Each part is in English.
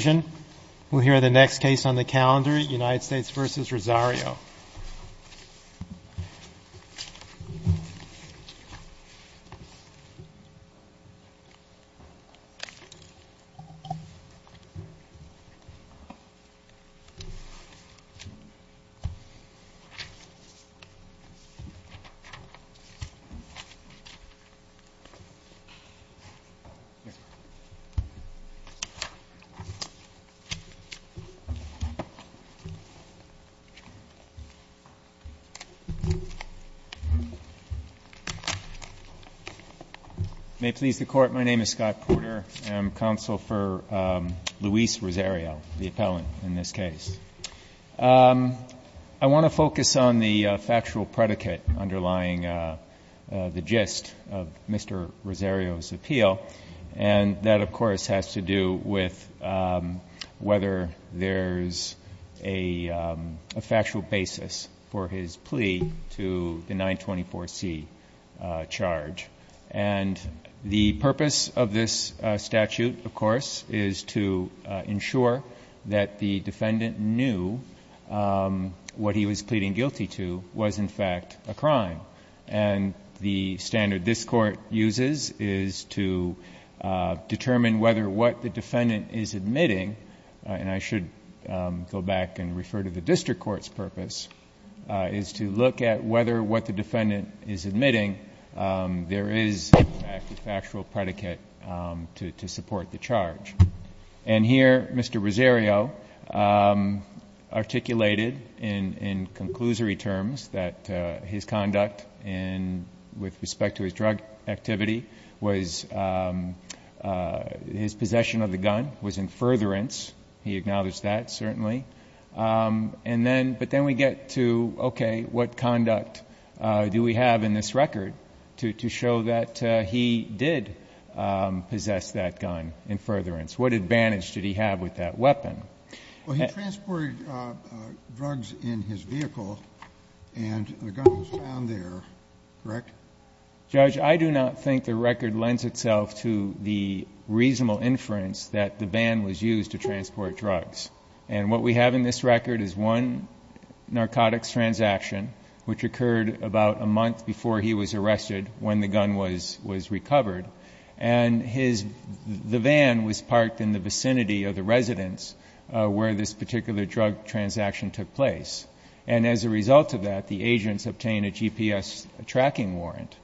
sario. I want to focus on the factual predicate underlying the gist of Mr. Rosario's appeal and that of whether there's a factual basis for his plea to the 924C charge. And the purpose of this statute, of course, is to ensure that the defendant knew what he was pleading guilty to was, in fact, a crime. And the standard this Court uses is to determine whether what the defendant is admitting — and I should go back and refer to the district court's purpose — is to look at whether what the defendant is admitting, there is a factual predicate to support the charge. And here, Mr. Rosario articulated in conclusory terms that his conduct with respect to his drug activity was — his possession of the gun was in furtherance. He acknowledged that, certainly. And then — but then we get to, okay, what conduct do we have in this record to show that he did possess that gun in furtherance? What advantage did he have with that weapon? Well, he transported drugs in his vehicle, and the gun was found there, correct? Judge, I do not think the record lends itself to the reasonable inference that the ban was used to transport drugs. And what we have in this record is one narcotics transaction which occurred about a month before he was arrested, when the gun was recovered, and his — the van was parked in the vicinity of the residence where this particular drug transaction took place. And as a result of that, the agents obtained a GPS tracking warrant.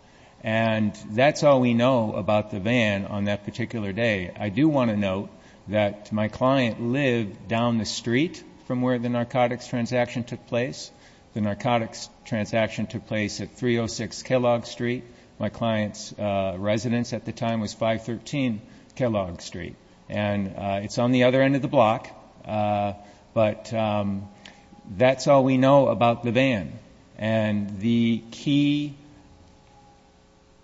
And that's all we know about the van on that particular day. I do want to note that my client lived down the street from where the narcotics transaction took place. The narcotics transaction took place at 306 Kellogg Street. My client's residence at the time was 513 Kellogg Street. And it's on the other end of the block. But that's all we know about the van. And the key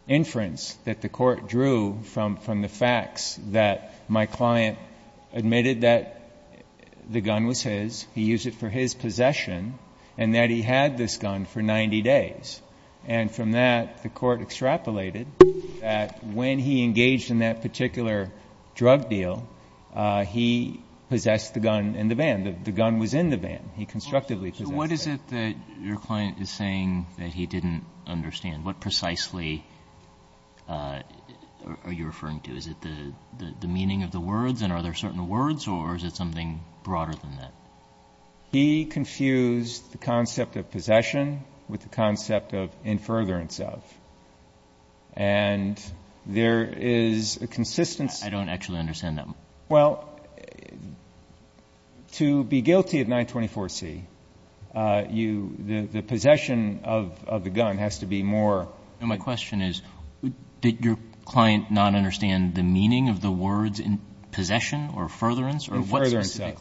inference that the court drew from the facts that my client admitted that the gun was his, he used it for his possession, and that he had this gun for 90 days. And from that, the court extrapolated that when he engaged in that particular drug deal, he possessed the gun in the van. The gun was in the van. He constructively possessed it. What is it that your client is saying that he didn't understand? What precisely are you referring to? Is it the meaning of the words? And are there certain words? Or is it something broader than that? He confused the concept of possession with the concept of in furtherance of. And there is a consistency. I don't actually understand that. Well, to be guilty of 924C, the possession of the gun has to be more. My question is, did your client not understand the meaning of the words in possession or furtherance? In furtherance of.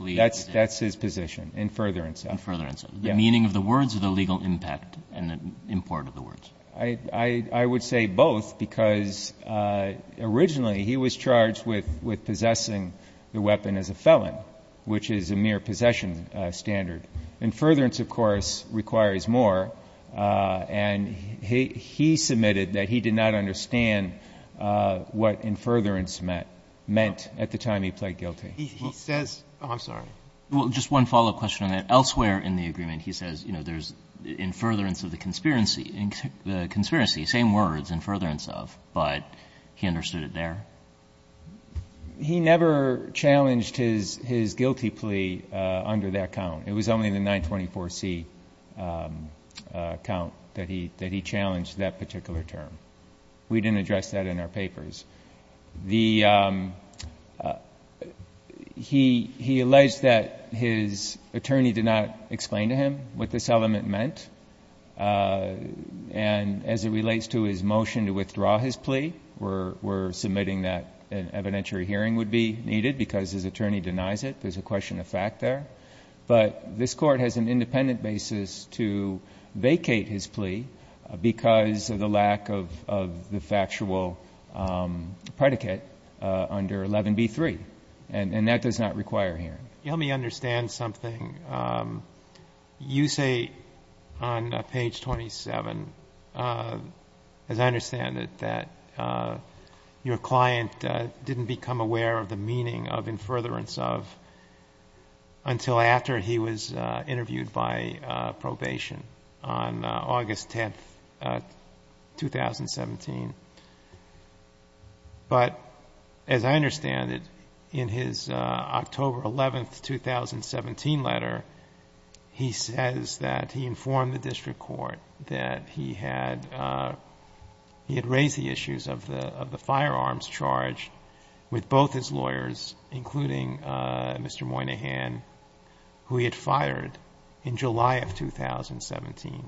That's his position. In furtherance of. In furtherance of. The meaning of the words or the legal impact and import of the words? I would say both, because originally he was charged with possessing the weapon as a felon, which is a mere possession standard. In furtherance, of course, requires more. And he submitted that he did not understand what in furtherance meant at the time he pled guilty. He says. Oh, I'm sorry. Well, just one follow-up question on that. Elsewhere in the agreement, he says, you know, there's in furtherance of the conspiracy. Same words. In furtherance of. But he understood it there? He never challenged his guilty plea under that count. It was only the 924C count that he challenged that particular term. We didn't address that in our papers. He alleged that his attorney did not explain to him what this element meant. And as it relates to his motion to withdraw his plea, we're submitting that an evidentiary hearing would be needed because his attorney denies it. There's a question of fact there. But this Court has an independent basis to vacate his plea because of the lack of the factual predicate under 11B3. And that does not require hearing. Let me understand something. You say on page 27, as I understand it, that your client didn't become aware of the meaning of in furtherance of until after he was interviewed by probation on August 10, 2017. But as I understand it, in his October 11, 2017 letter, he says that he informed the including Mr. Moynihan, who he had fired in July of 2017.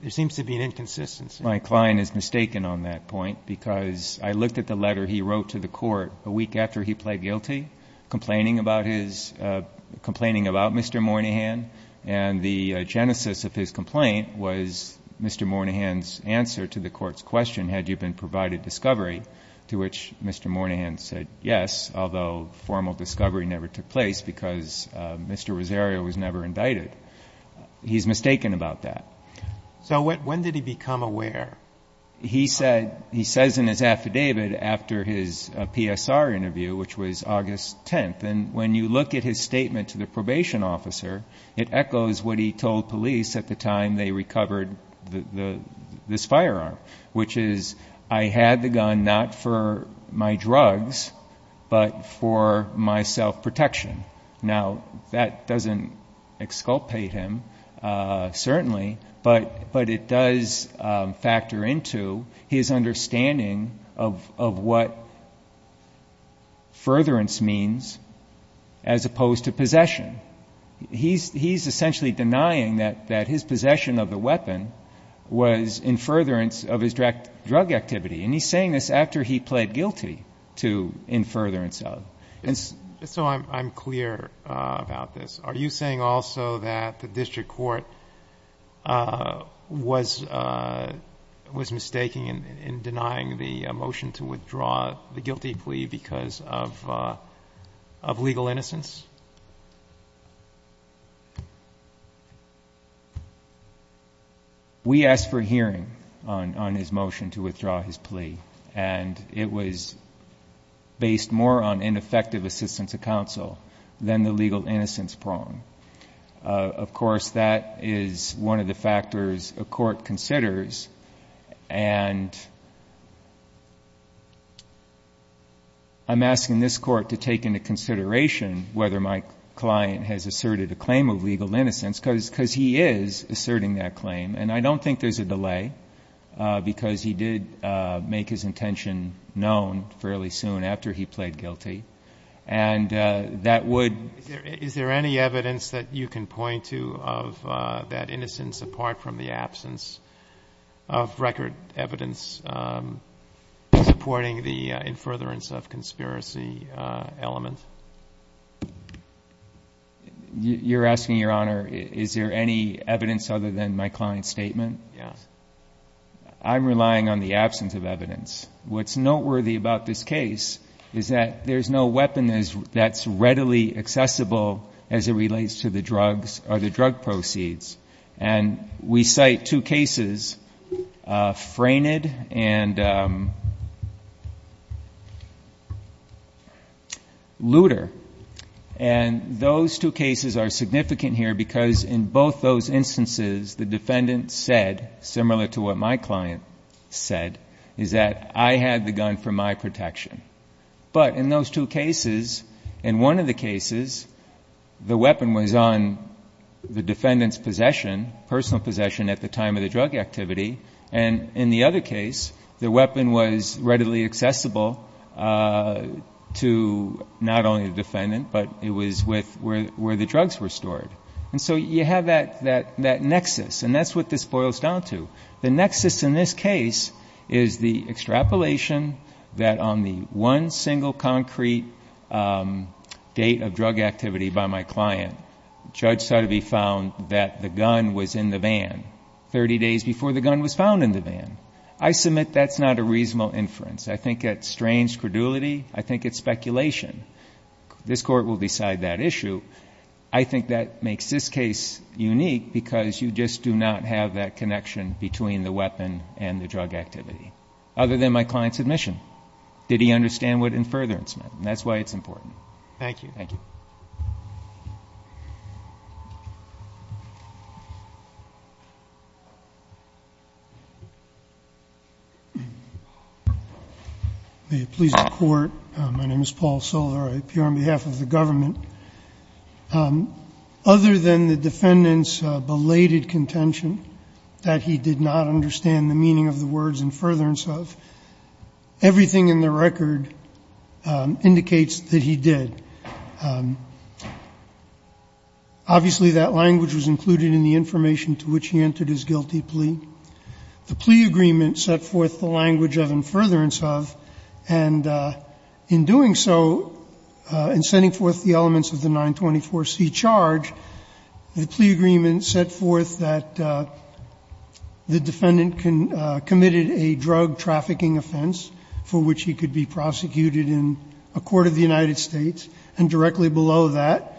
There seems to be an inconsistency. My client is mistaken on that point because I looked at the letter he wrote to the Court a week after he pled guilty, complaining about Mr. Moynihan. And the genesis of his complaint was Mr. Moynihan's answer to the Court's question, had you been Although formal discovery never took place because Mr. Rosario was never indicted. He's mistaken about that. So when did he become aware? He said, he says in his affidavit after his PSR interview, which was August 10th. And when you look at his statement to the probation officer, it echoes what he told police at the time they recovered this firearm, which is, I had the gun not for my drugs, but for my self-protection. Now that doesn't exculpate him, certainly, but it does factor into his understanding of what furtherance means as opposed to possession. He's essentially denying that his possession of the weapon was in furtherance of his drug activity. And he's saying this after he pled guilty to in furtherance of. So I'm clear about this. Are you saying also that the district court was mistaking in denying the motion to withdraw the guilty plea because of legal innocence? We asked for a hearing on his motion to withdraw his plea, and it was based more on ineffective assistance of counsel than the legal innocence prong. Of course, that is one of the factors a court considers. And I'm asking this court to take into consideration whether or not the legal innocence prong whether my client has asserted a claim of legal innocence, because he is asserting that claim. And I don't think there's a delay, because he did make his intention known fairly soon after he pled guilty. And that would... Is there any evidence that you can point to of that innocence, apart from the absence of record evidence supporting the in furtherance of conspiracy element? You're asking, Your Honor, is there any evidence other than my client's statement? Yes. I'm relying on the absence of evidence. What's noteworthy about this case is that there's no weapon that's readily accessible as it relates to the drugs or the drug proceeds. And we cite two cases, Frained and Luder. And those two cases are significant here, because in both those instances, the defendant said, similar to what my client said, is that I had the gun for my protection. But in those two cases, in one of the cases, the weapon was on the defendant's possession, personal possession at the time of the drug activity. And in the other case, the weapon was readily accessible to not only the defendant, but it was with where the drugs were stored. And so you have that nexus, and that's what this boils down to. The nexus in this case is the extrapolation that on the one single concrete date of drug activity by my client, the judge sought to be found that the gun was in the van 30 days before the gun was found in the van. I submit that's not a reasonable inference. I think it strains credulity. I think it's speculation. This Court will decide that issue. I think that makes this case unique, because you just do not have that connection between the weapon and the drug activity, other than my client's admission. Did he understand what inference meant? And that's why it's important. Thank you. Thank you. May it please the Court. My name is Paul Soler. I appear on behalf of the government. Other than the defendant's belated contention that he did not understand the meaning of the words, inference of, everything in the record indicates that he did. Obviously, that language was included in the information to which he entered his guilty plea. The plea agreement set forth the language of inference of. And in doing so, in sending forth the elements of the 924C charge, the plea agreement set forth that the defendant committed a drug trafficking offense for which he could be prosecuted in a court of the United States, and directly below that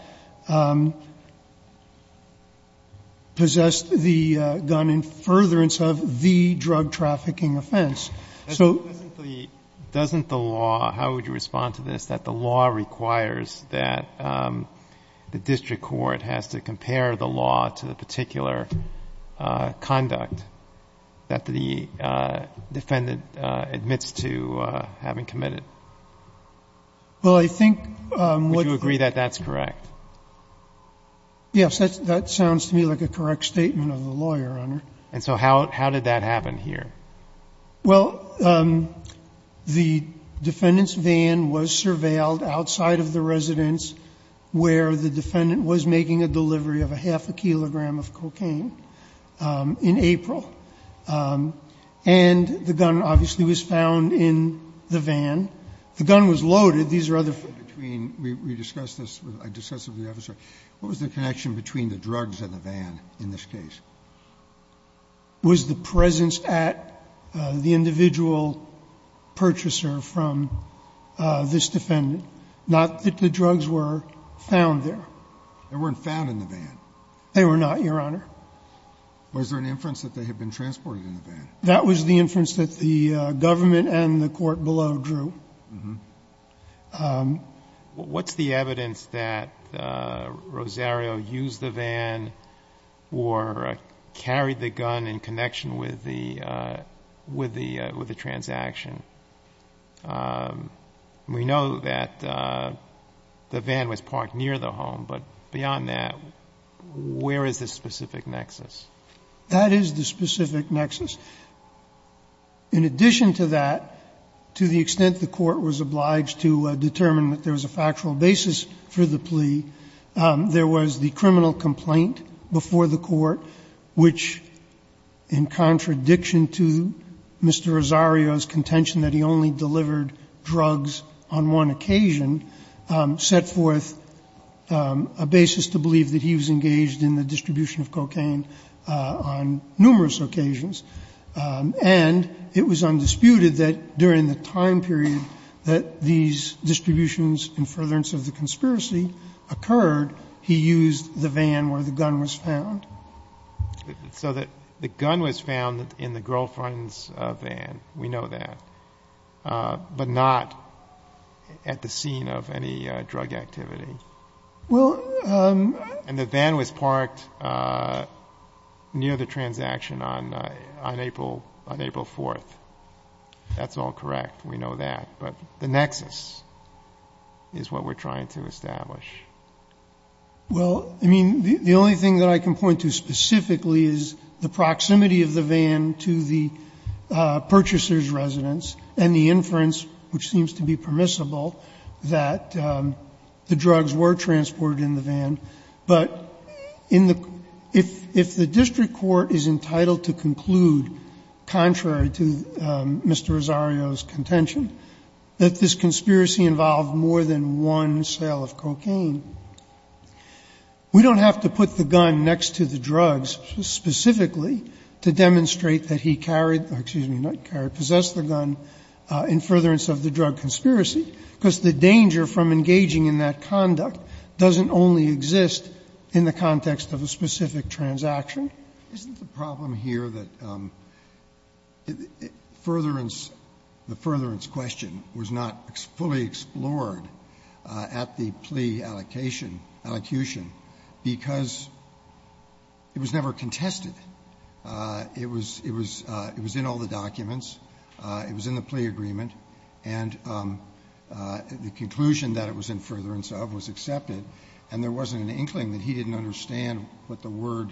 possessed the gun in furtherance of the drug trafficking offense. So. Doesn't the law, how would you respond to this, that the law requires that the district court has to compare the law to the particular conduct that the defendant admits to having committed? Well, I think what's. Would you agree that that's correct? Yes. That sounds to me like a correct statement of the lawyer, Your Honor. And so how did that happen here? Well, the defendant's van was surveilled outside of the residence where the defendant was making a delivery of a half a kilogram of cocaine in April. And the gun obviously was found in the van. The gun was loaded. These are other. We discussed this with the officer. What was the connection between the drugs and the van in this case? Was the presence at the individual purchaser from this defendant? Not that the drugs were found there. They weren't found in the van. They were not, Your Honor. Was there an inference that they had been transported in the van? That was the inference that the government and the court below drew. Mm-hmm. What's the evidence that Rosario used the van or carried the gun in connection with the transaction? We know that the van was parked near the home. But beyond that, where is the specific nexus? That is the specific nexus. In addition to that, to the extent the court was obliged to determine that there was a factual basis for the plea, there was the criminal complaint before the court which, in contradiction to Mr. Rosario's contention that he only delivered drugs on one occasion, set forth a basis to believe that he was engaged in the distribution of cocaine on numerous occasions. And it was undisputed that during the time period that these distributions and furtherance of the conspiracy occurred, he used the van where the gun was found. So that the gun was found in the girlfriend's van. We know that. But not at the scene of any drug activity. Well, um. And the van was parked near the transaction on April 4th. That's all correct. We know that. But the nexus is what we're trying to establish. Well, I mean, the only thing that I can point to specifically is the proximity of the van to the purchaser's residence and the inference, which seems to be permissible, that the drugs were transported in the van. But if the district court is entitled to conclude, contrary to Mr. Rosario's contention, that this conspiracy involved more than one sale of cocaine, we don't have to put the gun next to the drugs specifically to demonstrate that he carried or possessed the gun in furtherance of the drug conspiracy. Because the danger from engaging in that conduct doesn't only exist in the context of a specific transaction. Isn't the problem here that furtherance, the furtherance question was not fully explored at the plea allocation, allocution, because it was never contested. It was in all the documents. It was in the plea agreement. And the conclusion that it was in furtherance of was accepted, and there wasn't an inkling that he didn't understand what the word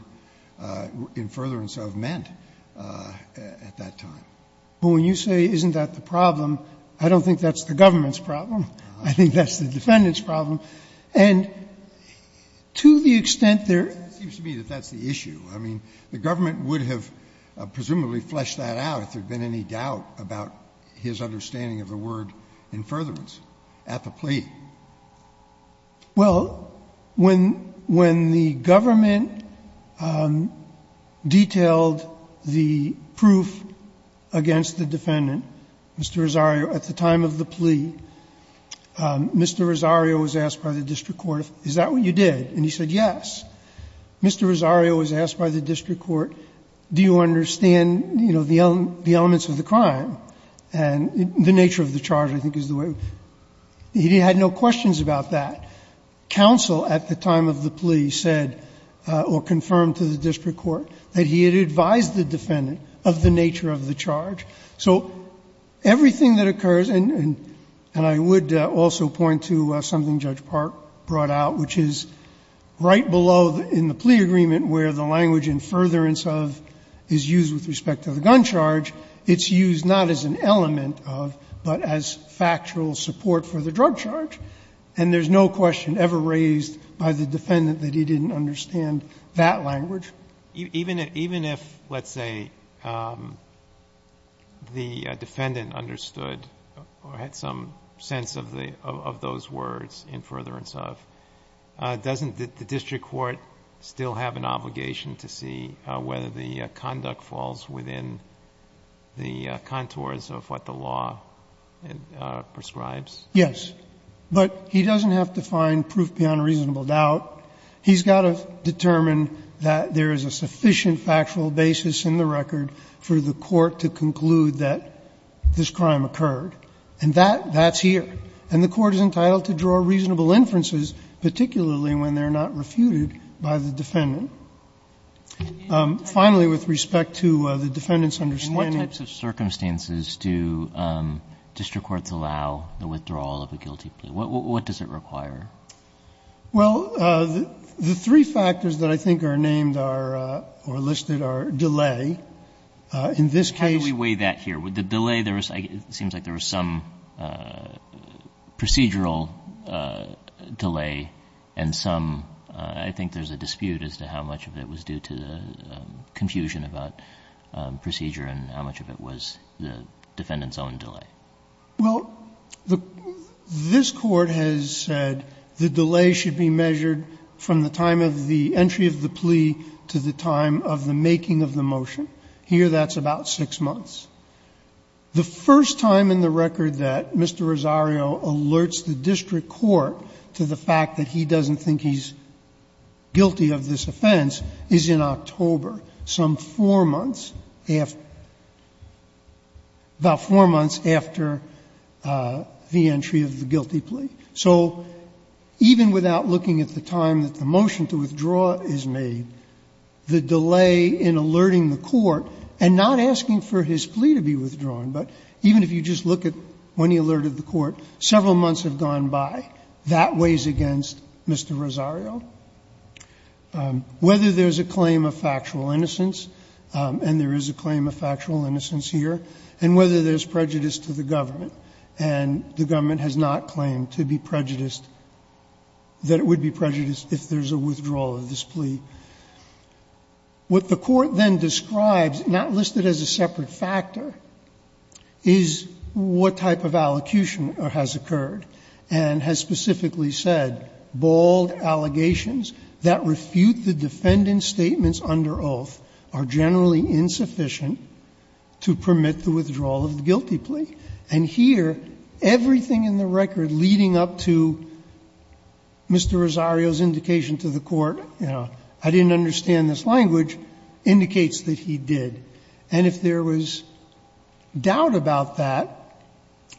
in furtherance of meant at that time. But when you say, isn't that the problem, I don't think that's the government's problem. I think that's the defendant's problem. And to the extent there is a problem, I think that's the problem. It seems to me that that's the issue. I mean, the government would have presumably fleshed that out if there had been any doubt about his understanding of the word in furtherance at the plea. Well, when the government detailed the proof against the defendant, Mr. Rosario, at the time of the plea, Mr. Rosario was asked by the district court, is that what you did? And he said, yes. Mr. Rosario was asked by the district court, do you understand, you know, the elements of the crime, and the nature of the charge, I think, is the way it was. He had no questions about that. Counsel at the time of the plea said, or confirmed to the district court, that he had advised the defendant of the nature of the charge. So everything that occurs, and I would also point to something Judge Park brought out, which is right below in the plea agreement where the language in furtherance of is used with respect to the gun charge, it's used not as an element of, but as factual support for the drug charge. And there's no question ever raised by the defendant that he didn't understand that language. Even if, let's say, the defendant understood or had some sense of those words in furtherance of, doesn't the district court still have an obligation to see whether the conduct falls within the contours of what the law prescribes? Yes. But he doesn't have to find proof beyond reasonable doubt. He's got to determine that there is a sufficient factual basis in the record for the court to conclude that this crime occurred. And that's here. And the court is entitled to draw reasonable inferences, particularly when they're not refuted by the defendant. Finally, with respect to the defendant's understanding. And what types of circumstances do district courts allow the withdrawal of a guilty plea? What does it require? Well, the three factors that I think are named are, or listed, are delay. In this case. How do we weigh that here? The delay, there was, it seems like there was some procedural delay and some, I think there's a dispute as to how much of it was due to the confusion about procedure and how much of it was the defendant's own delay. Well, this Court has said the delay should be measured from the time of the entry of the plea to the time of the making of the motion. Here that's about six months. The first time in the record that Mr. Rosario alerts the district court to the fact that he doesn't think he's guilty of this offense is in October, some four months after, about four months after the entry of the guilty plea. So even without looking at the time that the motion to withdraw is made, the delay in alerting the court and not asking for his plea to be withdrawn, but even if you just look at when he alerted the court, several months have gone by. That weighs against Mr. Rosario. Whether there's a claim of factual innocence, and there is a claim of factual innocence here, and whether there's prejudice to the government, and the government has not claimed to be prejudiced, that it would be prejudiced if there's a withdrawal of this plea. What the Court then describes, not listed as a separate factor, is what type of allocution has occurred, and has specifically said bald allegations that refute the defendant's statements under oath are generally insufficient to permit the withdrawal of the guilty plea. And here, everything in the record leading up to Mr. Rosario's indication to the court, you know, I didn't understand this language, indicates that he did. And if there was doubt about that,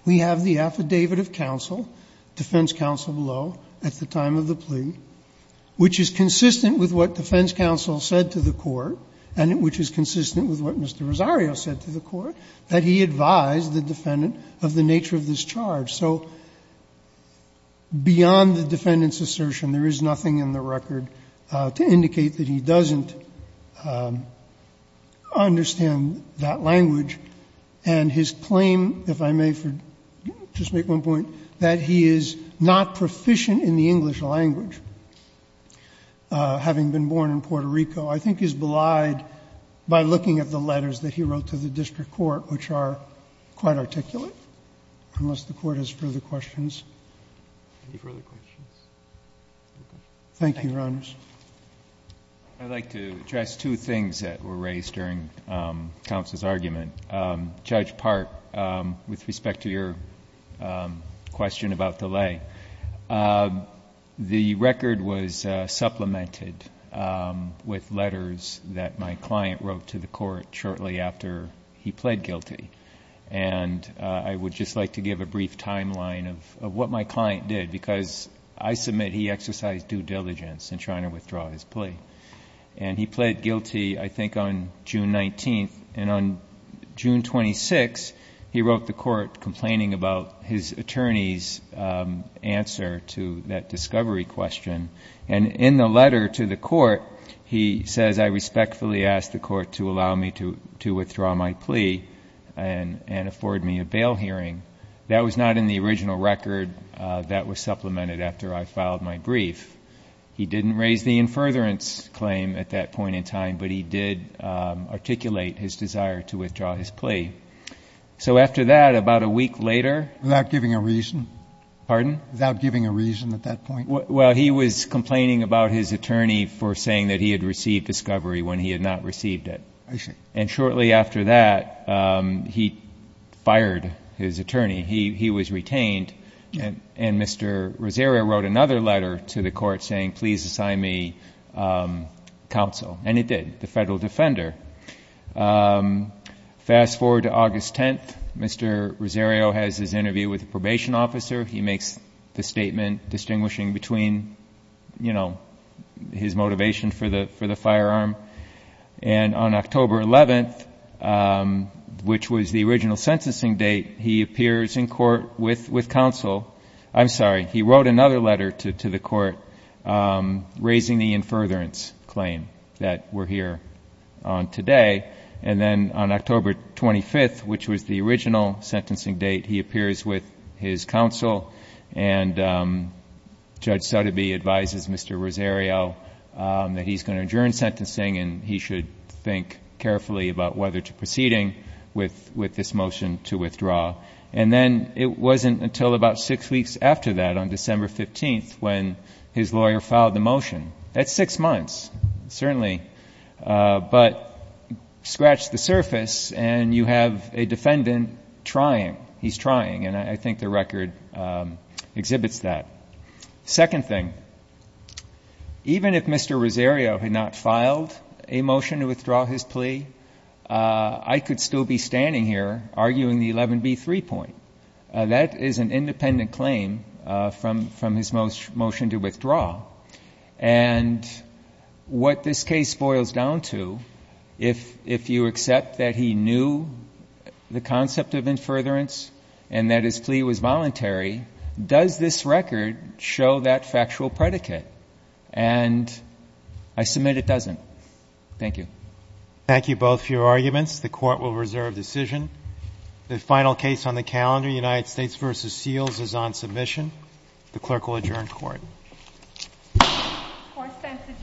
we have the affidavit of counsel, defense counsel below, at the time of the plea, which is consistent with what defense counsel said to the court, and which is consistent with what Mr. Rosario said to the court, that he advised the defendant of the nature of this charge. So beyond the defendant's assertion, there is nothing in the record to indicate that he doesn't understand that language. And his claim, if I may just make one point, that he is not proficient in the English language, having been born in Puerto Rico, I think is belied by looking at the letters that he wrote to the district court, which are quite articulate, unless the court has further questions. Roberts. Any further questions? Thank you, Your Honors. I'd like to address two things that were raised during counsel's argument. Judge Park, with respect to your question about delay, the record was supplemented with letters that my client wrote to the court shortly after he pled guilty. And I would just like to give a brief timeline of what my client did, because I submit he exercised due diligence in trying to withdraw his plea. And he pled guilty, I think, on June 19th. And on June 26th, he wrote the court complaining about his attorney's answer to that discovery question. And in the letter to the court, he says, I respectfully ask the court to allow me to withdraw my plea and afford me a bail hearing. That was not in the original record that was supplemented after I filed my brief. He didn't raise the in furtherance claim at that point in time, but he did articulate his desire to withdraw his plea. So after that, about a week later. Without giving a reason? Pardon? Without giving a reason at that point? Well, he was complaining about his attorney for saying that he had received discovery when he had not received it. And shortly after that, he fired his attorney. He was retained. And Mr. Rosario wrote another letter to the court saying, please assign me counsel. And it did, the federal defender. Fast forward to August 10th. Mr. Rosario has his interview with the probation officer. He makes the statement distinguishing between his motivation for the firearm. And on October 11th, which was the original sentencing date, he appears in court with counsel. I'm sorry, he wrote another letter to the court raising the in furtherance claim that we're here on today. And then on October 25th, which was the original sentencing date, he appears with his counsel. And Judge Sotheby advises Mr. Rosario that he's going to adjourn sentencing and he should think carefully about whether to proceeding with this motion to withdraw. And then it wasn't until about six weeks after that, on December 15th, when his lawyer filed the motion. That's six months, certainly. But scratch the surface, and you have a defendant trying. And I think the record exhibits that. Second thing, even if Mr. Rosario had not filed a motion to withdraw his plea, I could still be standing here arguing the 11B3 point. That is an independent claim from his motion to withdraw. And what this case boils down to, if you accept that he knew the concept of in furtherance and that his plea was voluntary, does this record show that factual predicate? And I submit it doesn't. Thank you. Thank you both for your arguments. The court will reserve decision. The final case on the calendar, United States versus Seals, is on submission. The clerk will adjourn court. Court stands adjourned.